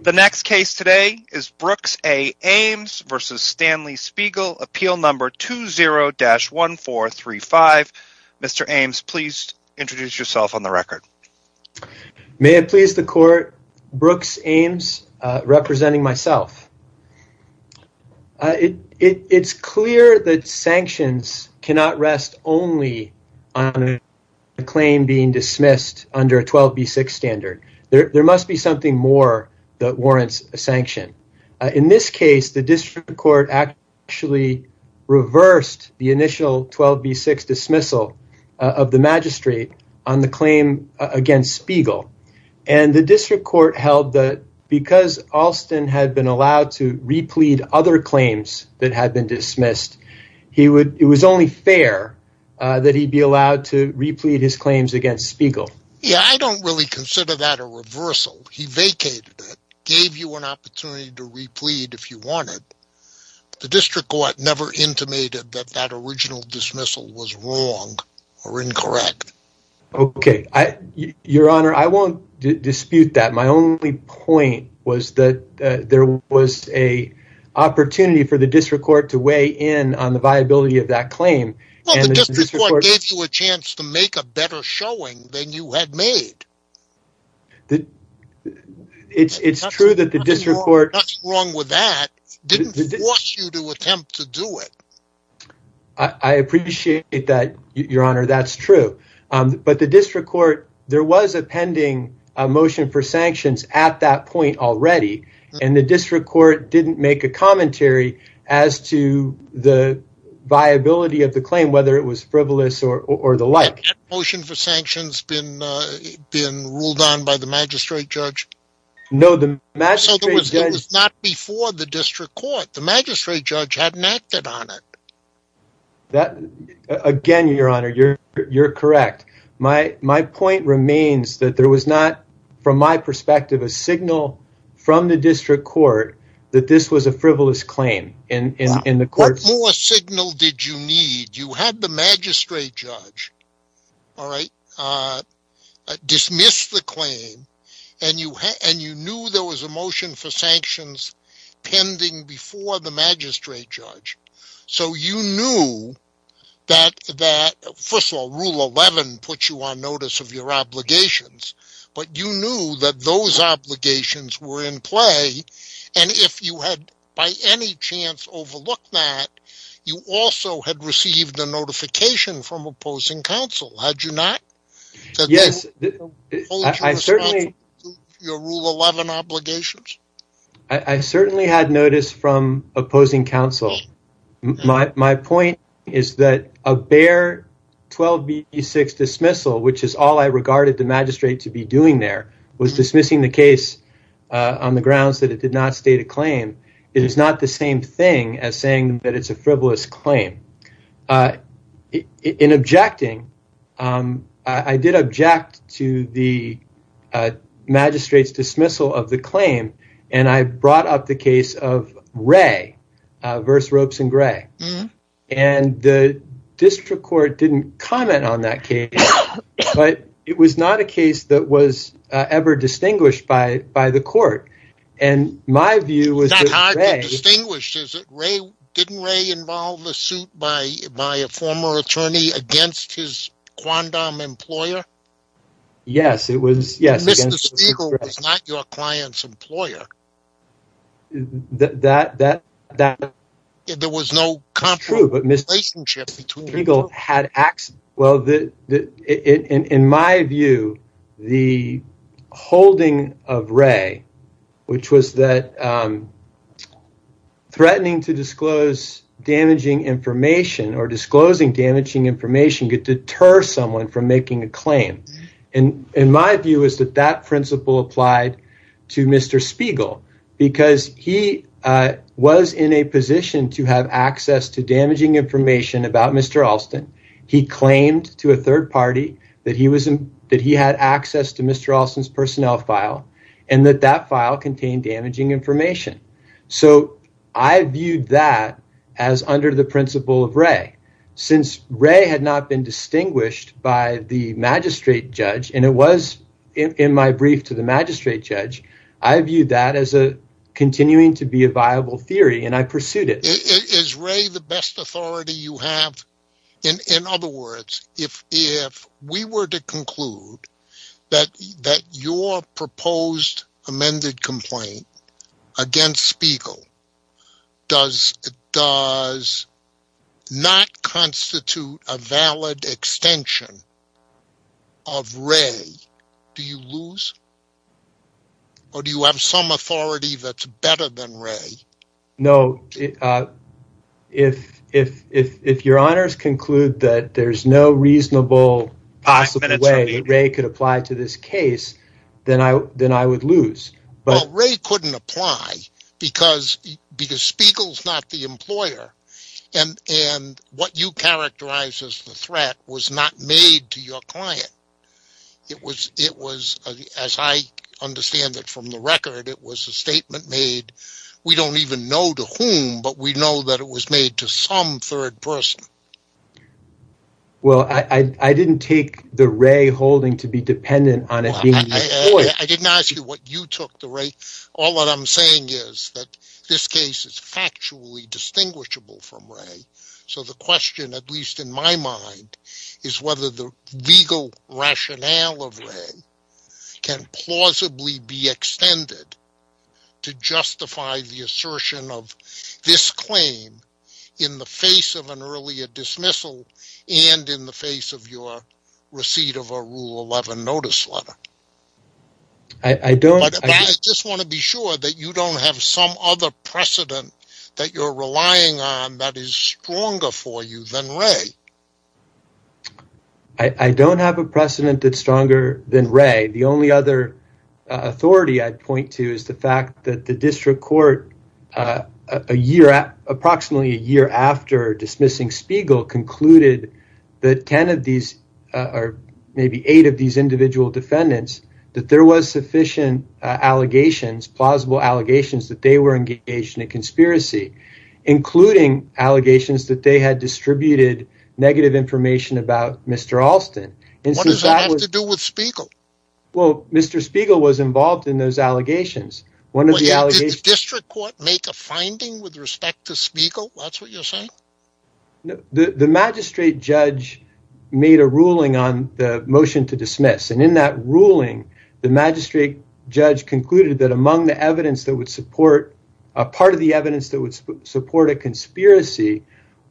The next case today is Brooks A. Ames v. Stanley Spiegel, appeal number 20-1435. Mr. Ames, please introduce yourself on the record. May it please the court, Brooks Ames, representing myself. It's clear that sanctions cannot rest only on a claim being dismissed under a 12b6 standard. There must be something more that warrants a sanction. In this case, the district court actually reversed the initial 12b6 dismissal of the magistrate on the claim against Spiegel, and the district court held that because Alston had been allowed to replete other claims that had been dismissed, it was only fair that he be allowed to replete his claims against Spiegel. I don't really consider that a reversal. He vacated it, gave you an opportunity to replete if you wanted. The district court never intimated that that original dismissal was wrong or incorrect. I won't dispute that. My only point was that there was an opportunity for the district court to weigh in on the viability of that claim. The district court gave you a showing that you had made. It's true that the district court didn't force you to attempt to do it. I appreciate that, your honor. That's true. But the district court, there was a pending motion for sanctions at that point already, and the district court didn't make a commentary as to the viability of the claim, whether it was frivolous or the like. Has that motion for sanctions been ruled on by the magistrate judge? No. It was not before the district court. The magistrate judge hadn't acted on it. Again, your honor, you're correct. My point remains that there was not, from my perspective, a signal from the district court that this was a frivolous claim. What more signal did you need? You had the magistrate judge dismiss the claim, and you knew there was a motion for sanctions pending before the magistrate judge. First of all, Rule 11 puts you on notice of your obligations, but you knew that those obligations were in play, and if you had, by any chance, overlooked that, you also had received a notification from opposing counsel, had you not? Yes, I certainly had notice from opposing counsel. My point is that a bare 12B6 dismissal, which is all I regarded the magistrate to be doing there, was dismissing the case on the grounds that it did not state a claim. It is not the same thing as saying that it's a frivolous claim. In objecting, I did object to the magistrate's claim. The district court didn't comment on that case, but it was not a case that was ever distinguished by the court. It's not hard to distinguish, is it? Didn't Ray involve a suit by a former attorney against his Quandam employer? Mr. Spiegel was not your client's employer. In my view, the holding of Ray, which was that threatening to disclose damaging information or disclosing damaging information could deter someone from making a claim. In my view, that principle applied to Mr. Spiegel because he was in a position to have access to damaging information about Mr. Alston. He claimed to a third party that he had access to Mr. Alston's personnel file and that that file contained damaging information. I viewed that as under the principle of Ray. Since Ray had not been distinguished by the magistrate judge, and it was in my brief to the magistrate judge, I viewed that as continuing to be a viable theory and I pursued it. Is Ray the best authority you against Spiegel? Does not constitute a valid extension of Ray? Do you lose or do you have some authority that's better than Ray? No. If your honors conclude that there's no reasonable possible way that Ray could apply to this case, then I would lose. Ray couldn't apply because Spiegel's not the employer and what you characterize as the threat was not made to your client. It was, as I understand it from the record, it was a statement made. We don't even know to whom, but we know that it was made to some third person. Well, I didn't take the Ray holding to be dependent on it. I didn't ask you what you took the Ray. All that I'm saying is that this case is factually distinguishable from Ray. So the question, at least in my mind, is whether the legal rationale of Ray can plausibly be extended to justify the assertion of this claim in the face of an earlier notice letter. I just want to be sure that you don't have some other precedent that you're relying on that is stronger for you than Ray. I don't have a precedent that's stronger than Ray. The only other authority I'd point to is the fact that the district court a year, approximately a year after dismissing Spiegel, concluded that ten of these or maybe eight of these individual defendants, that there was sufficient allegations, plausible allegations that they were engaged in a conspiracy, including allegations that they had distributed negative information about Mr. Alston. What does that have to do with Spiegel? Well, Mr. Spiegel was involved in those allegations. Did the district court make a finding with respect to Spiegel? That's what you're saying? The magistrate judge made a ruling on the motion to dismiss. In that ruling, the magistrate judge concluded that part of the evidence that would support a conspiracy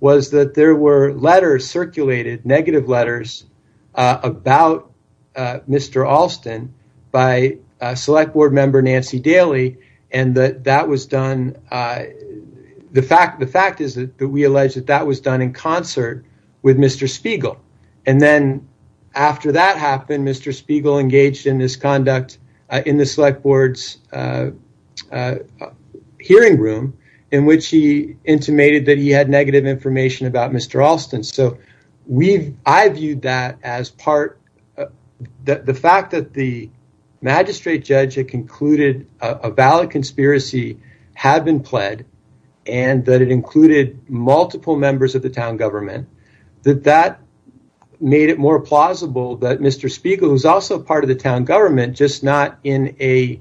was that there were letters circulated, negative letters, about Mr. Alston by Select Board member Nancy Daly. The fact is that we allege that that was done in concert with Mr. Spiegel. After that happened, Mr. Spiegel engaged in this conduct in the Select Board's hearing room in which he intimated that he had negative information about Mr. Alston. I viewed that as part, the fact that the magistrate judge had concluded a valid conspiracy had been pled and that it included multiple members of the town government, that that made it more plausible that Mr. Spiegel, who's also part of the town government, just not in a,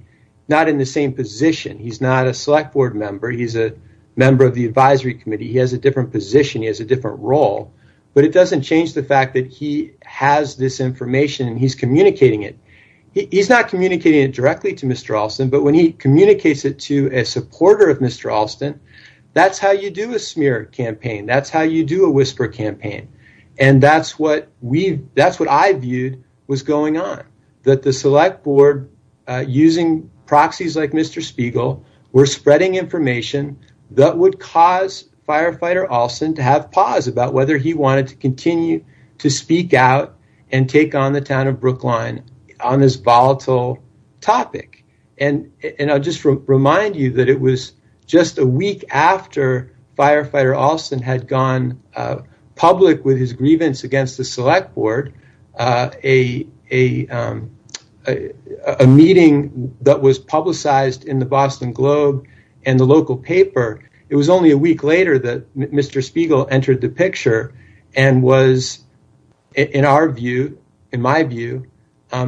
not in the same position. He's not a Select Board member. He's a member of the advisory committee. He has a different position. He has a different role, but it doesn't change the fact that he has this information and he's communicating it. He's not communicating it directly to Mr. Alston, but when he communicates it to a supporter of Mr. Alston, that's how you do a smear campaign. That's how you do a whisper campaign. That's what I viewed was going on, that the Select Board, using proxies like Mr. Spiegel, were spreading information that would cause Firefighter Alston to have pause about whether he wanted to continue to speak out and take on the town of Brookline on this volatile topic. And I'll just remind you that it was just a week after Firefighter Alston had gone public with his grievance against the Select Board, a meeting that was publicized in the Boston Globe and the local paper. It was only a week later that Mr. Spiegel entered the picture and was, in our view, in my view,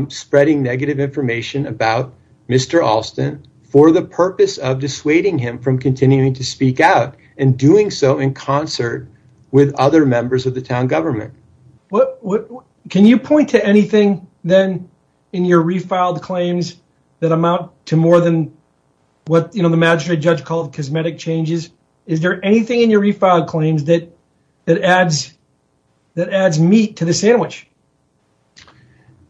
spreading negative information about Mr. Alston for the other members of the town government. Can you point to anything then in your refiled claims that amount to more than what the magistrate judge called cosmetic changes? Is there anything in your refiled claims that adds meat to the sandwich?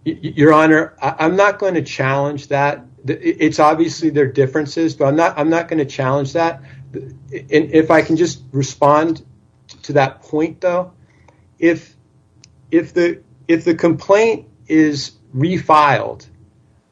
Your Honor, I'm not going to challenge that. It's obviously there are differences, but I'm not going to challenge that. If I can just to that point, though, if the complaint is refiled,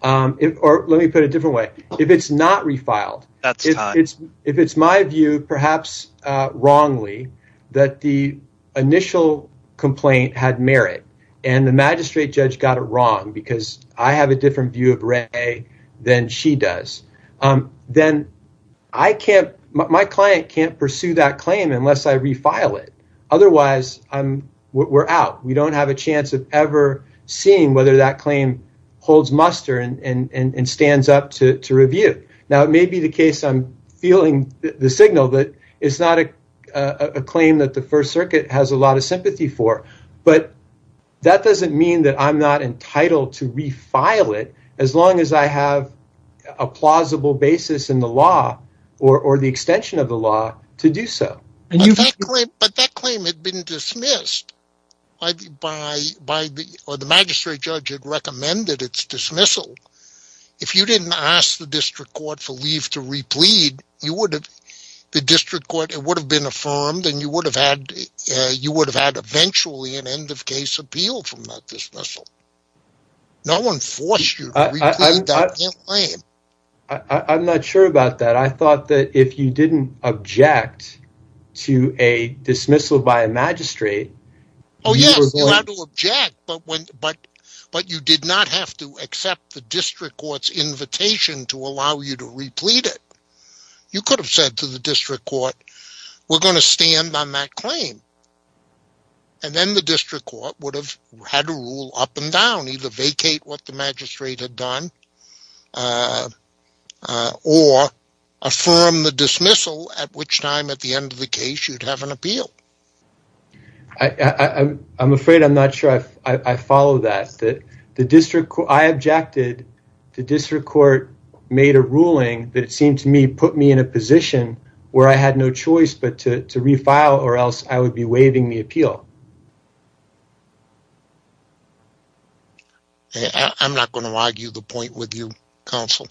or let me put it a different way, if it's not refiled, if it's my view, perhaps wrongly, that the initial complaint had merit and the magistrate judge got it wrong because I have a different view of Ray than she does, then my client can't pursue that claim unless I refile it. Otherwise, we're out. We don't have a chance of ever seeing whether that claim holds muster and stands up to review. It may be the case I'm feeling the signal that it's not a claim that the First Circuit has a lot of sympathy for, but that doesn't mean that I'm not entitled to refile it as long as I have a plausible basis in the law or the extension of the law to do so. But that claim had been dismissed or the magistrate judge had recommended its dismissal. If you didn't ask the district court for leave to replead, the district court would have been affirmed and you would have had eventually an end-of-case appeal from that dismissal. No one forced you. I'm not sure about that. I thought that if you didn't object to a dismissal by a magistrate... Oh yes, you had to object, but you did not have to accept the district court's invitation to allow you to replead it. You could have said to the district court, we're going to stand on that and then the district court would have had to rule up and down, either vacate what the magistrate had done or affirm the dismissal at which time at the end of the case you'd have an appeal. I'm afraid I'm not sure I follow that. I objected. The district court made a ruling that it seemed to me put me in a position where I had no choice but to refile or else I would be waiving the dismissal. I'm not going to argue the point with you, counsel.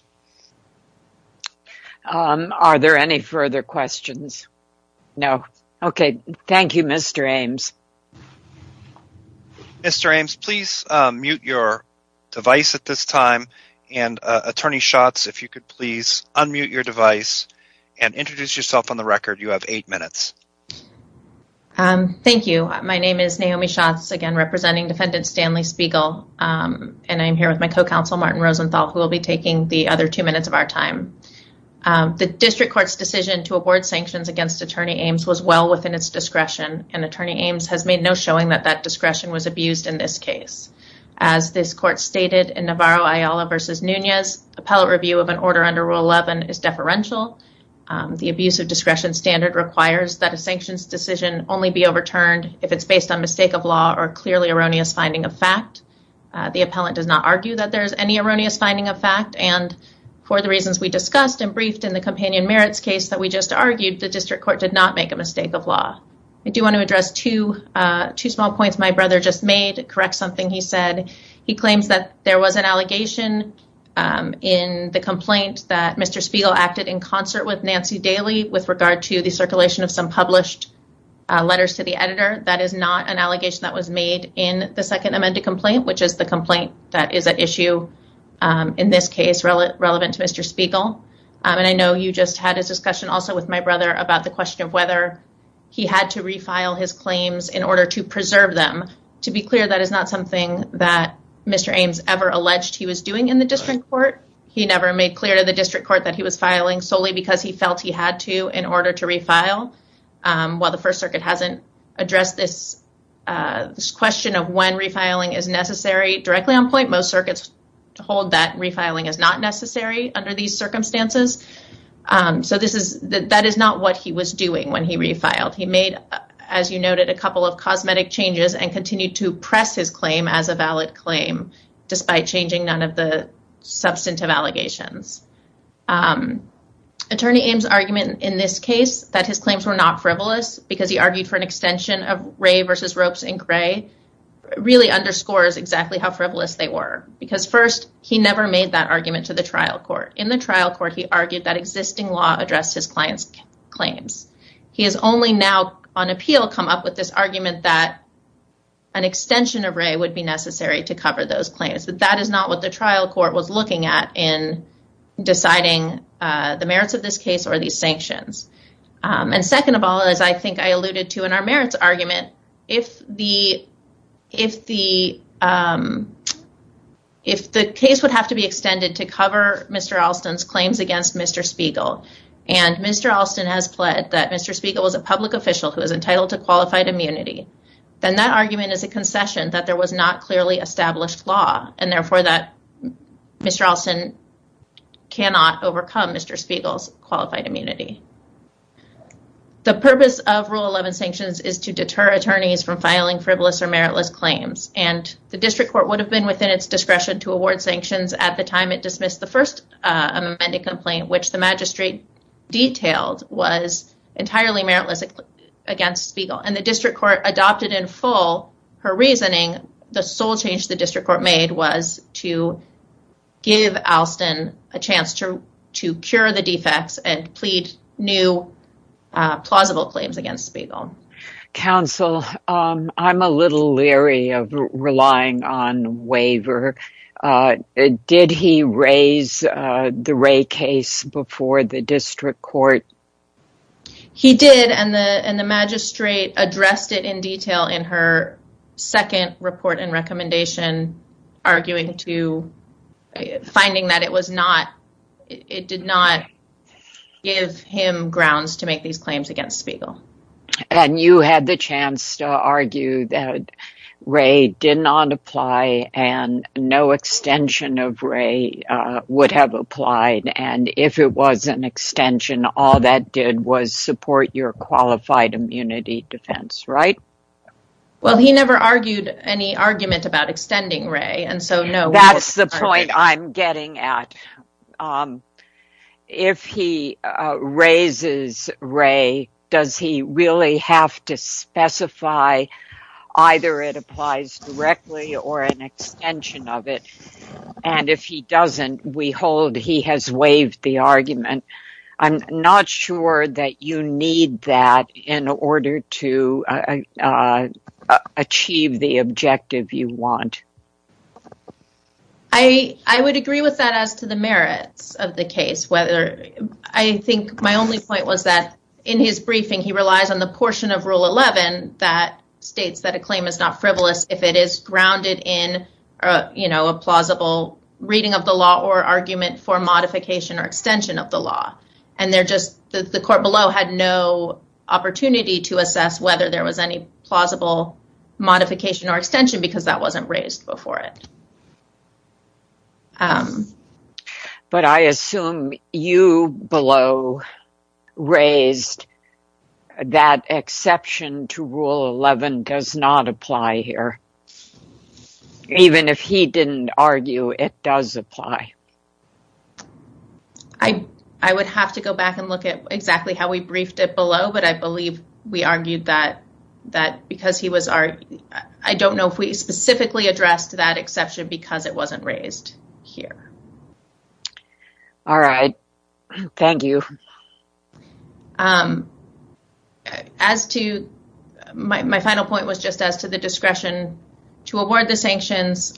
Are there any further questions? No. Okay, thank you, Mr. Ames. Mr. Ames, please mute your device at this time and Attorney Schatz, if you could please unmute your device and introduce yourself on the record. You have eight minutes. Thank you. My name is Naomi Schatz, again, representing Defendant Stanley Spiegel, and I'm here with my co-counsel, Martin Rosenthal, who will be taking the other two minutes of our time. The district court's decision to award sanctions against Attorney Ames was well within its discretion, and Attorney Ames has made no showing that that discretion was abused in this case. As this court stated in Navarro-Ayala v. Nunez, appellate review of an order under Rule 11 is deferential. The abuse of discretion standard requires that a sanctions decision only be overturned if it's based on mistake of law or clearly erroneous finding of fact. The appellant does not argue that there's any erroneous finding of fact, and for the reasons we discussed and briefed in the companion merits case that we just argued, the district court did not make a mistake of law. I do want to address two small points my brother just made, correct something he said. He claims that there was an allegation in the complaint that Mr. Spiegel acted in concert with Nancy Daly with regard to the circulation of some published letters to the editor. That is not an allegation that was made in the second amended complaint, which is the complaint that is at issue in this case relevant to Mr. Spiegel, and I know you just had a discussion also with my brother about the question of whether he had to refile his claims in order to preserve them. To be clear, that is not something that Mr. Ames ever alleged he was doing in the district court. He never made clear to the district court that he was filing solely because he felt he had to in order to refile. While the first circuit hasn't addressed this question of when refiling is necessary directly on point, most circuits hold that refiling is not necessary under these circumstances. That is not what he was doing when he refiled. He made, as you noted, a couple of and continued to press his claim as a valid claim, despite changing none of the substantive allegations. Attorney Ames' argument in this case that his claims were not frivolous because he argued for an extension of Ray versus Ropes and Gray really underscores exactly how frivolous they were, because first, he never made that argument to the trial court. In the trial court, he argued that existing law addressed his client's claims. He has only now on appeal come up with this argument that an extension of Ray would be necessary to cover those claims, but that is not what the trial court was looking at in deciding the merits of this case or these sanctions. Second of all, as I think I alluded to in our merits argument, if the case would have to be extended to cover Mr. Alston's claims against Mr. Spiegel, and Mr. Alston has pled that Mr. is entitled to qualified immunity, then that argument is a concession that there was not clearly established law, and therefore that Mr. Alston cannot overcome Mr. Spiegel's qualified immunity. The purpose of Rule 11 sanctions is to deter attorneys from filing frivolous or meritless claims, and the district court would have been within its discretion to award sanctions at the time it dismissed the first amended complaint, which the magistrate detailed was entirely meritless against Spiegel, and the district court adopted in full her reasoning. The sole change the district court made was to give Alston a chance to cure the defects and plead new plausible claims against Spiegel. Counsel, I'm a little leery of relying on He did, and the magistrate addressed it in detail in her second report and recommendation, arguing to, finding that it was not, it did not give him grounds to make these claims against Spiegel. And you had the chance to argue that Wray did not apply and no extension of Wray would have applied, and if it was an extension, all that did was support your qualified immunity defense, right? Well, he never argued any argument about extending Wray, and so no. That's the point I'm getting at. If he raises Wray, does he really have to specify either it applies directly or an extension of it? And if he doesn't, we hold he has waived the argument. I'm not sure that you need that in order to achieve the objective you want. I would agree with that as to the merits of the case. I think my only point was that in his briefing, he relies on the portion of Rule 11 that states that a claim is not frivolous if it is grounded in a plausible reading of the law or argument for modification or extension of the law. And they're just, the court below had no opportunity to assess whether there was any plausible modification or extension because that wasn't raised before it. But I assume you below raised that exception to Rule 11 does not apply here, even if he didn't argue it does apply. I would have to go back and look at exactly how we briefed it below, but I believe we argued that because he was, I don't know if we specifically addressed that exception, because it wasn't raised here. All right. Thank you. My final point was just as to the discretion to award the sanctions.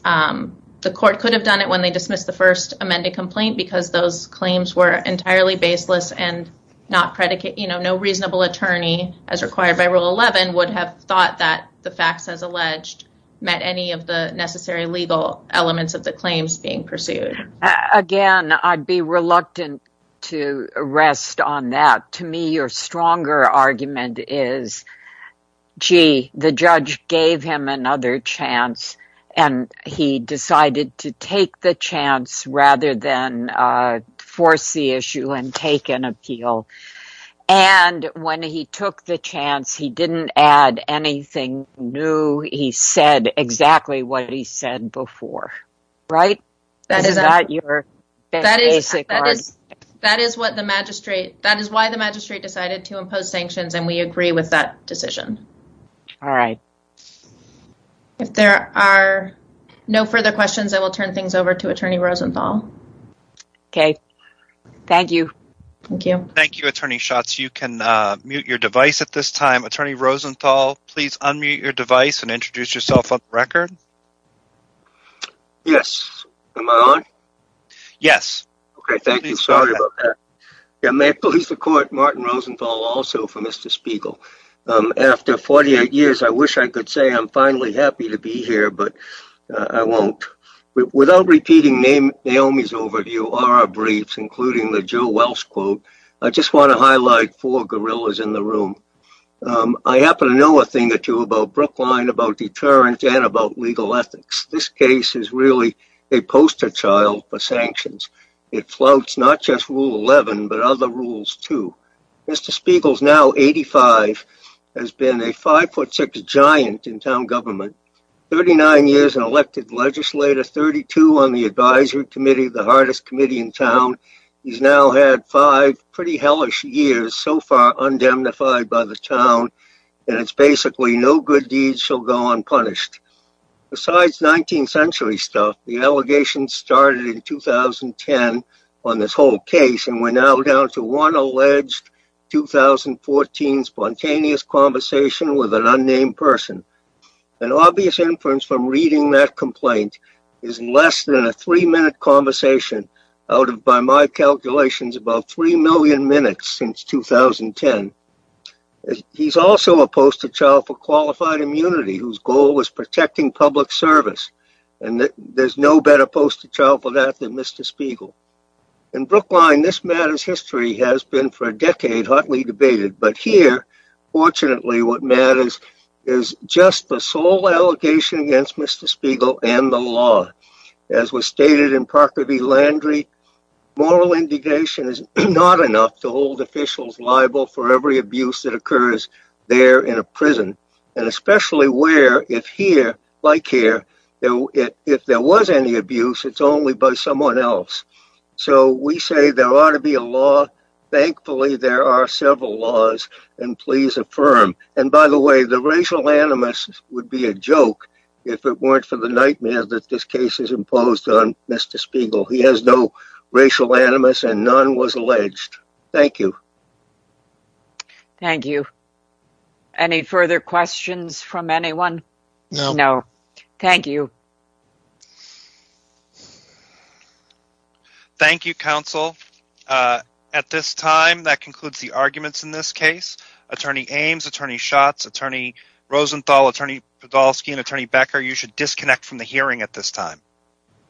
The court could have done it when they dismissed the first amended complaint because those claims were entirely baseless and no reasonable attorney as required by Rule 11 would have thought that the facts as alleged met any of the necessary legal elements of the claims being pursued. Again, I'd be reluctant to rest on that. To me, your stronger argument is, gee, the judge gave him another chance and he decided to take the chance rather than force the issue and take an appeal. And when he took the chance, he didn't add anything new. He said exactly what he said before, right? That is not your basic argument. That is why the magistrate decided to impose sanctions and we agree with that decision. All right. If there are no further questions, I will turn things over to Attorney Rosenthal. Okay. Thank you. Thank you, Attorney Schatz. You can mute your device at this time. Attorney Rosenthal, please unmute your device and introduce yourself on the record. Yes. Am I on? Yes. Okay. Thank you. Sorry about that. May I please record Martin Rosenthal also for Mr. Spiegel. After 48 years, I wish I could say I'm finally happy to be here, but I won't. Without repeating Naomi's overview or our briefs, including the Joe Welch quote, I just want to highlight four things about Brookline, deterrent, and legal ethics. This case is really a poster child for sanctions. It flouts not just rule 11, but other rules too. Mr. Spiegel is now 85, has been a 5'6 giant in town government, 39 years an elected legislator, 32 on the advisory committee, the hardest committee in town. He's now had five pretty hellish years so far undamnified by the no good deeds shall go unpunished. Besides 19th century stuff, the allegations started in 2010 on this whole case and we're now down to one alleged 2014 spontaneous conversation with an unnamed person. An obvious inference from reading that complaint is less than a three minute conversation out of, by my calculations, about 3 million minutes since 2010. He's also a poster child for qualified immunity, whose goal was protecting public service. There's no better poster child for that than Mr. Spiegel. In Brookline, this matter's history has been for a decade hotly debated, but here, fortunately, what matters is just the sole allegation against Mr. Spiegel and the law. As was stated in Parker v. Landry, moral indignation is not enough to hold officials liable for every abuse that occurs there in a prison, and especially where if here, like here, if there was any abuse, it's only by someone else. So we say there ought to be a law. Thankfully, there are several laws, and please affirm. And by the way, the racial animus would be a joke if it weren't for the nightmare that this case is imposed on Mr. Spiegel. He has no right to be here. Thank you. Any further questions from anyone? No. Thank you. Thank you, counsel. At this time, that concludes the arguments in this case. Attorney Ames, Attorney Schatz, Attorney Rosenthal, Attorney Podolsky, and Attorney Becker, you should disconnect from the hearing at this time.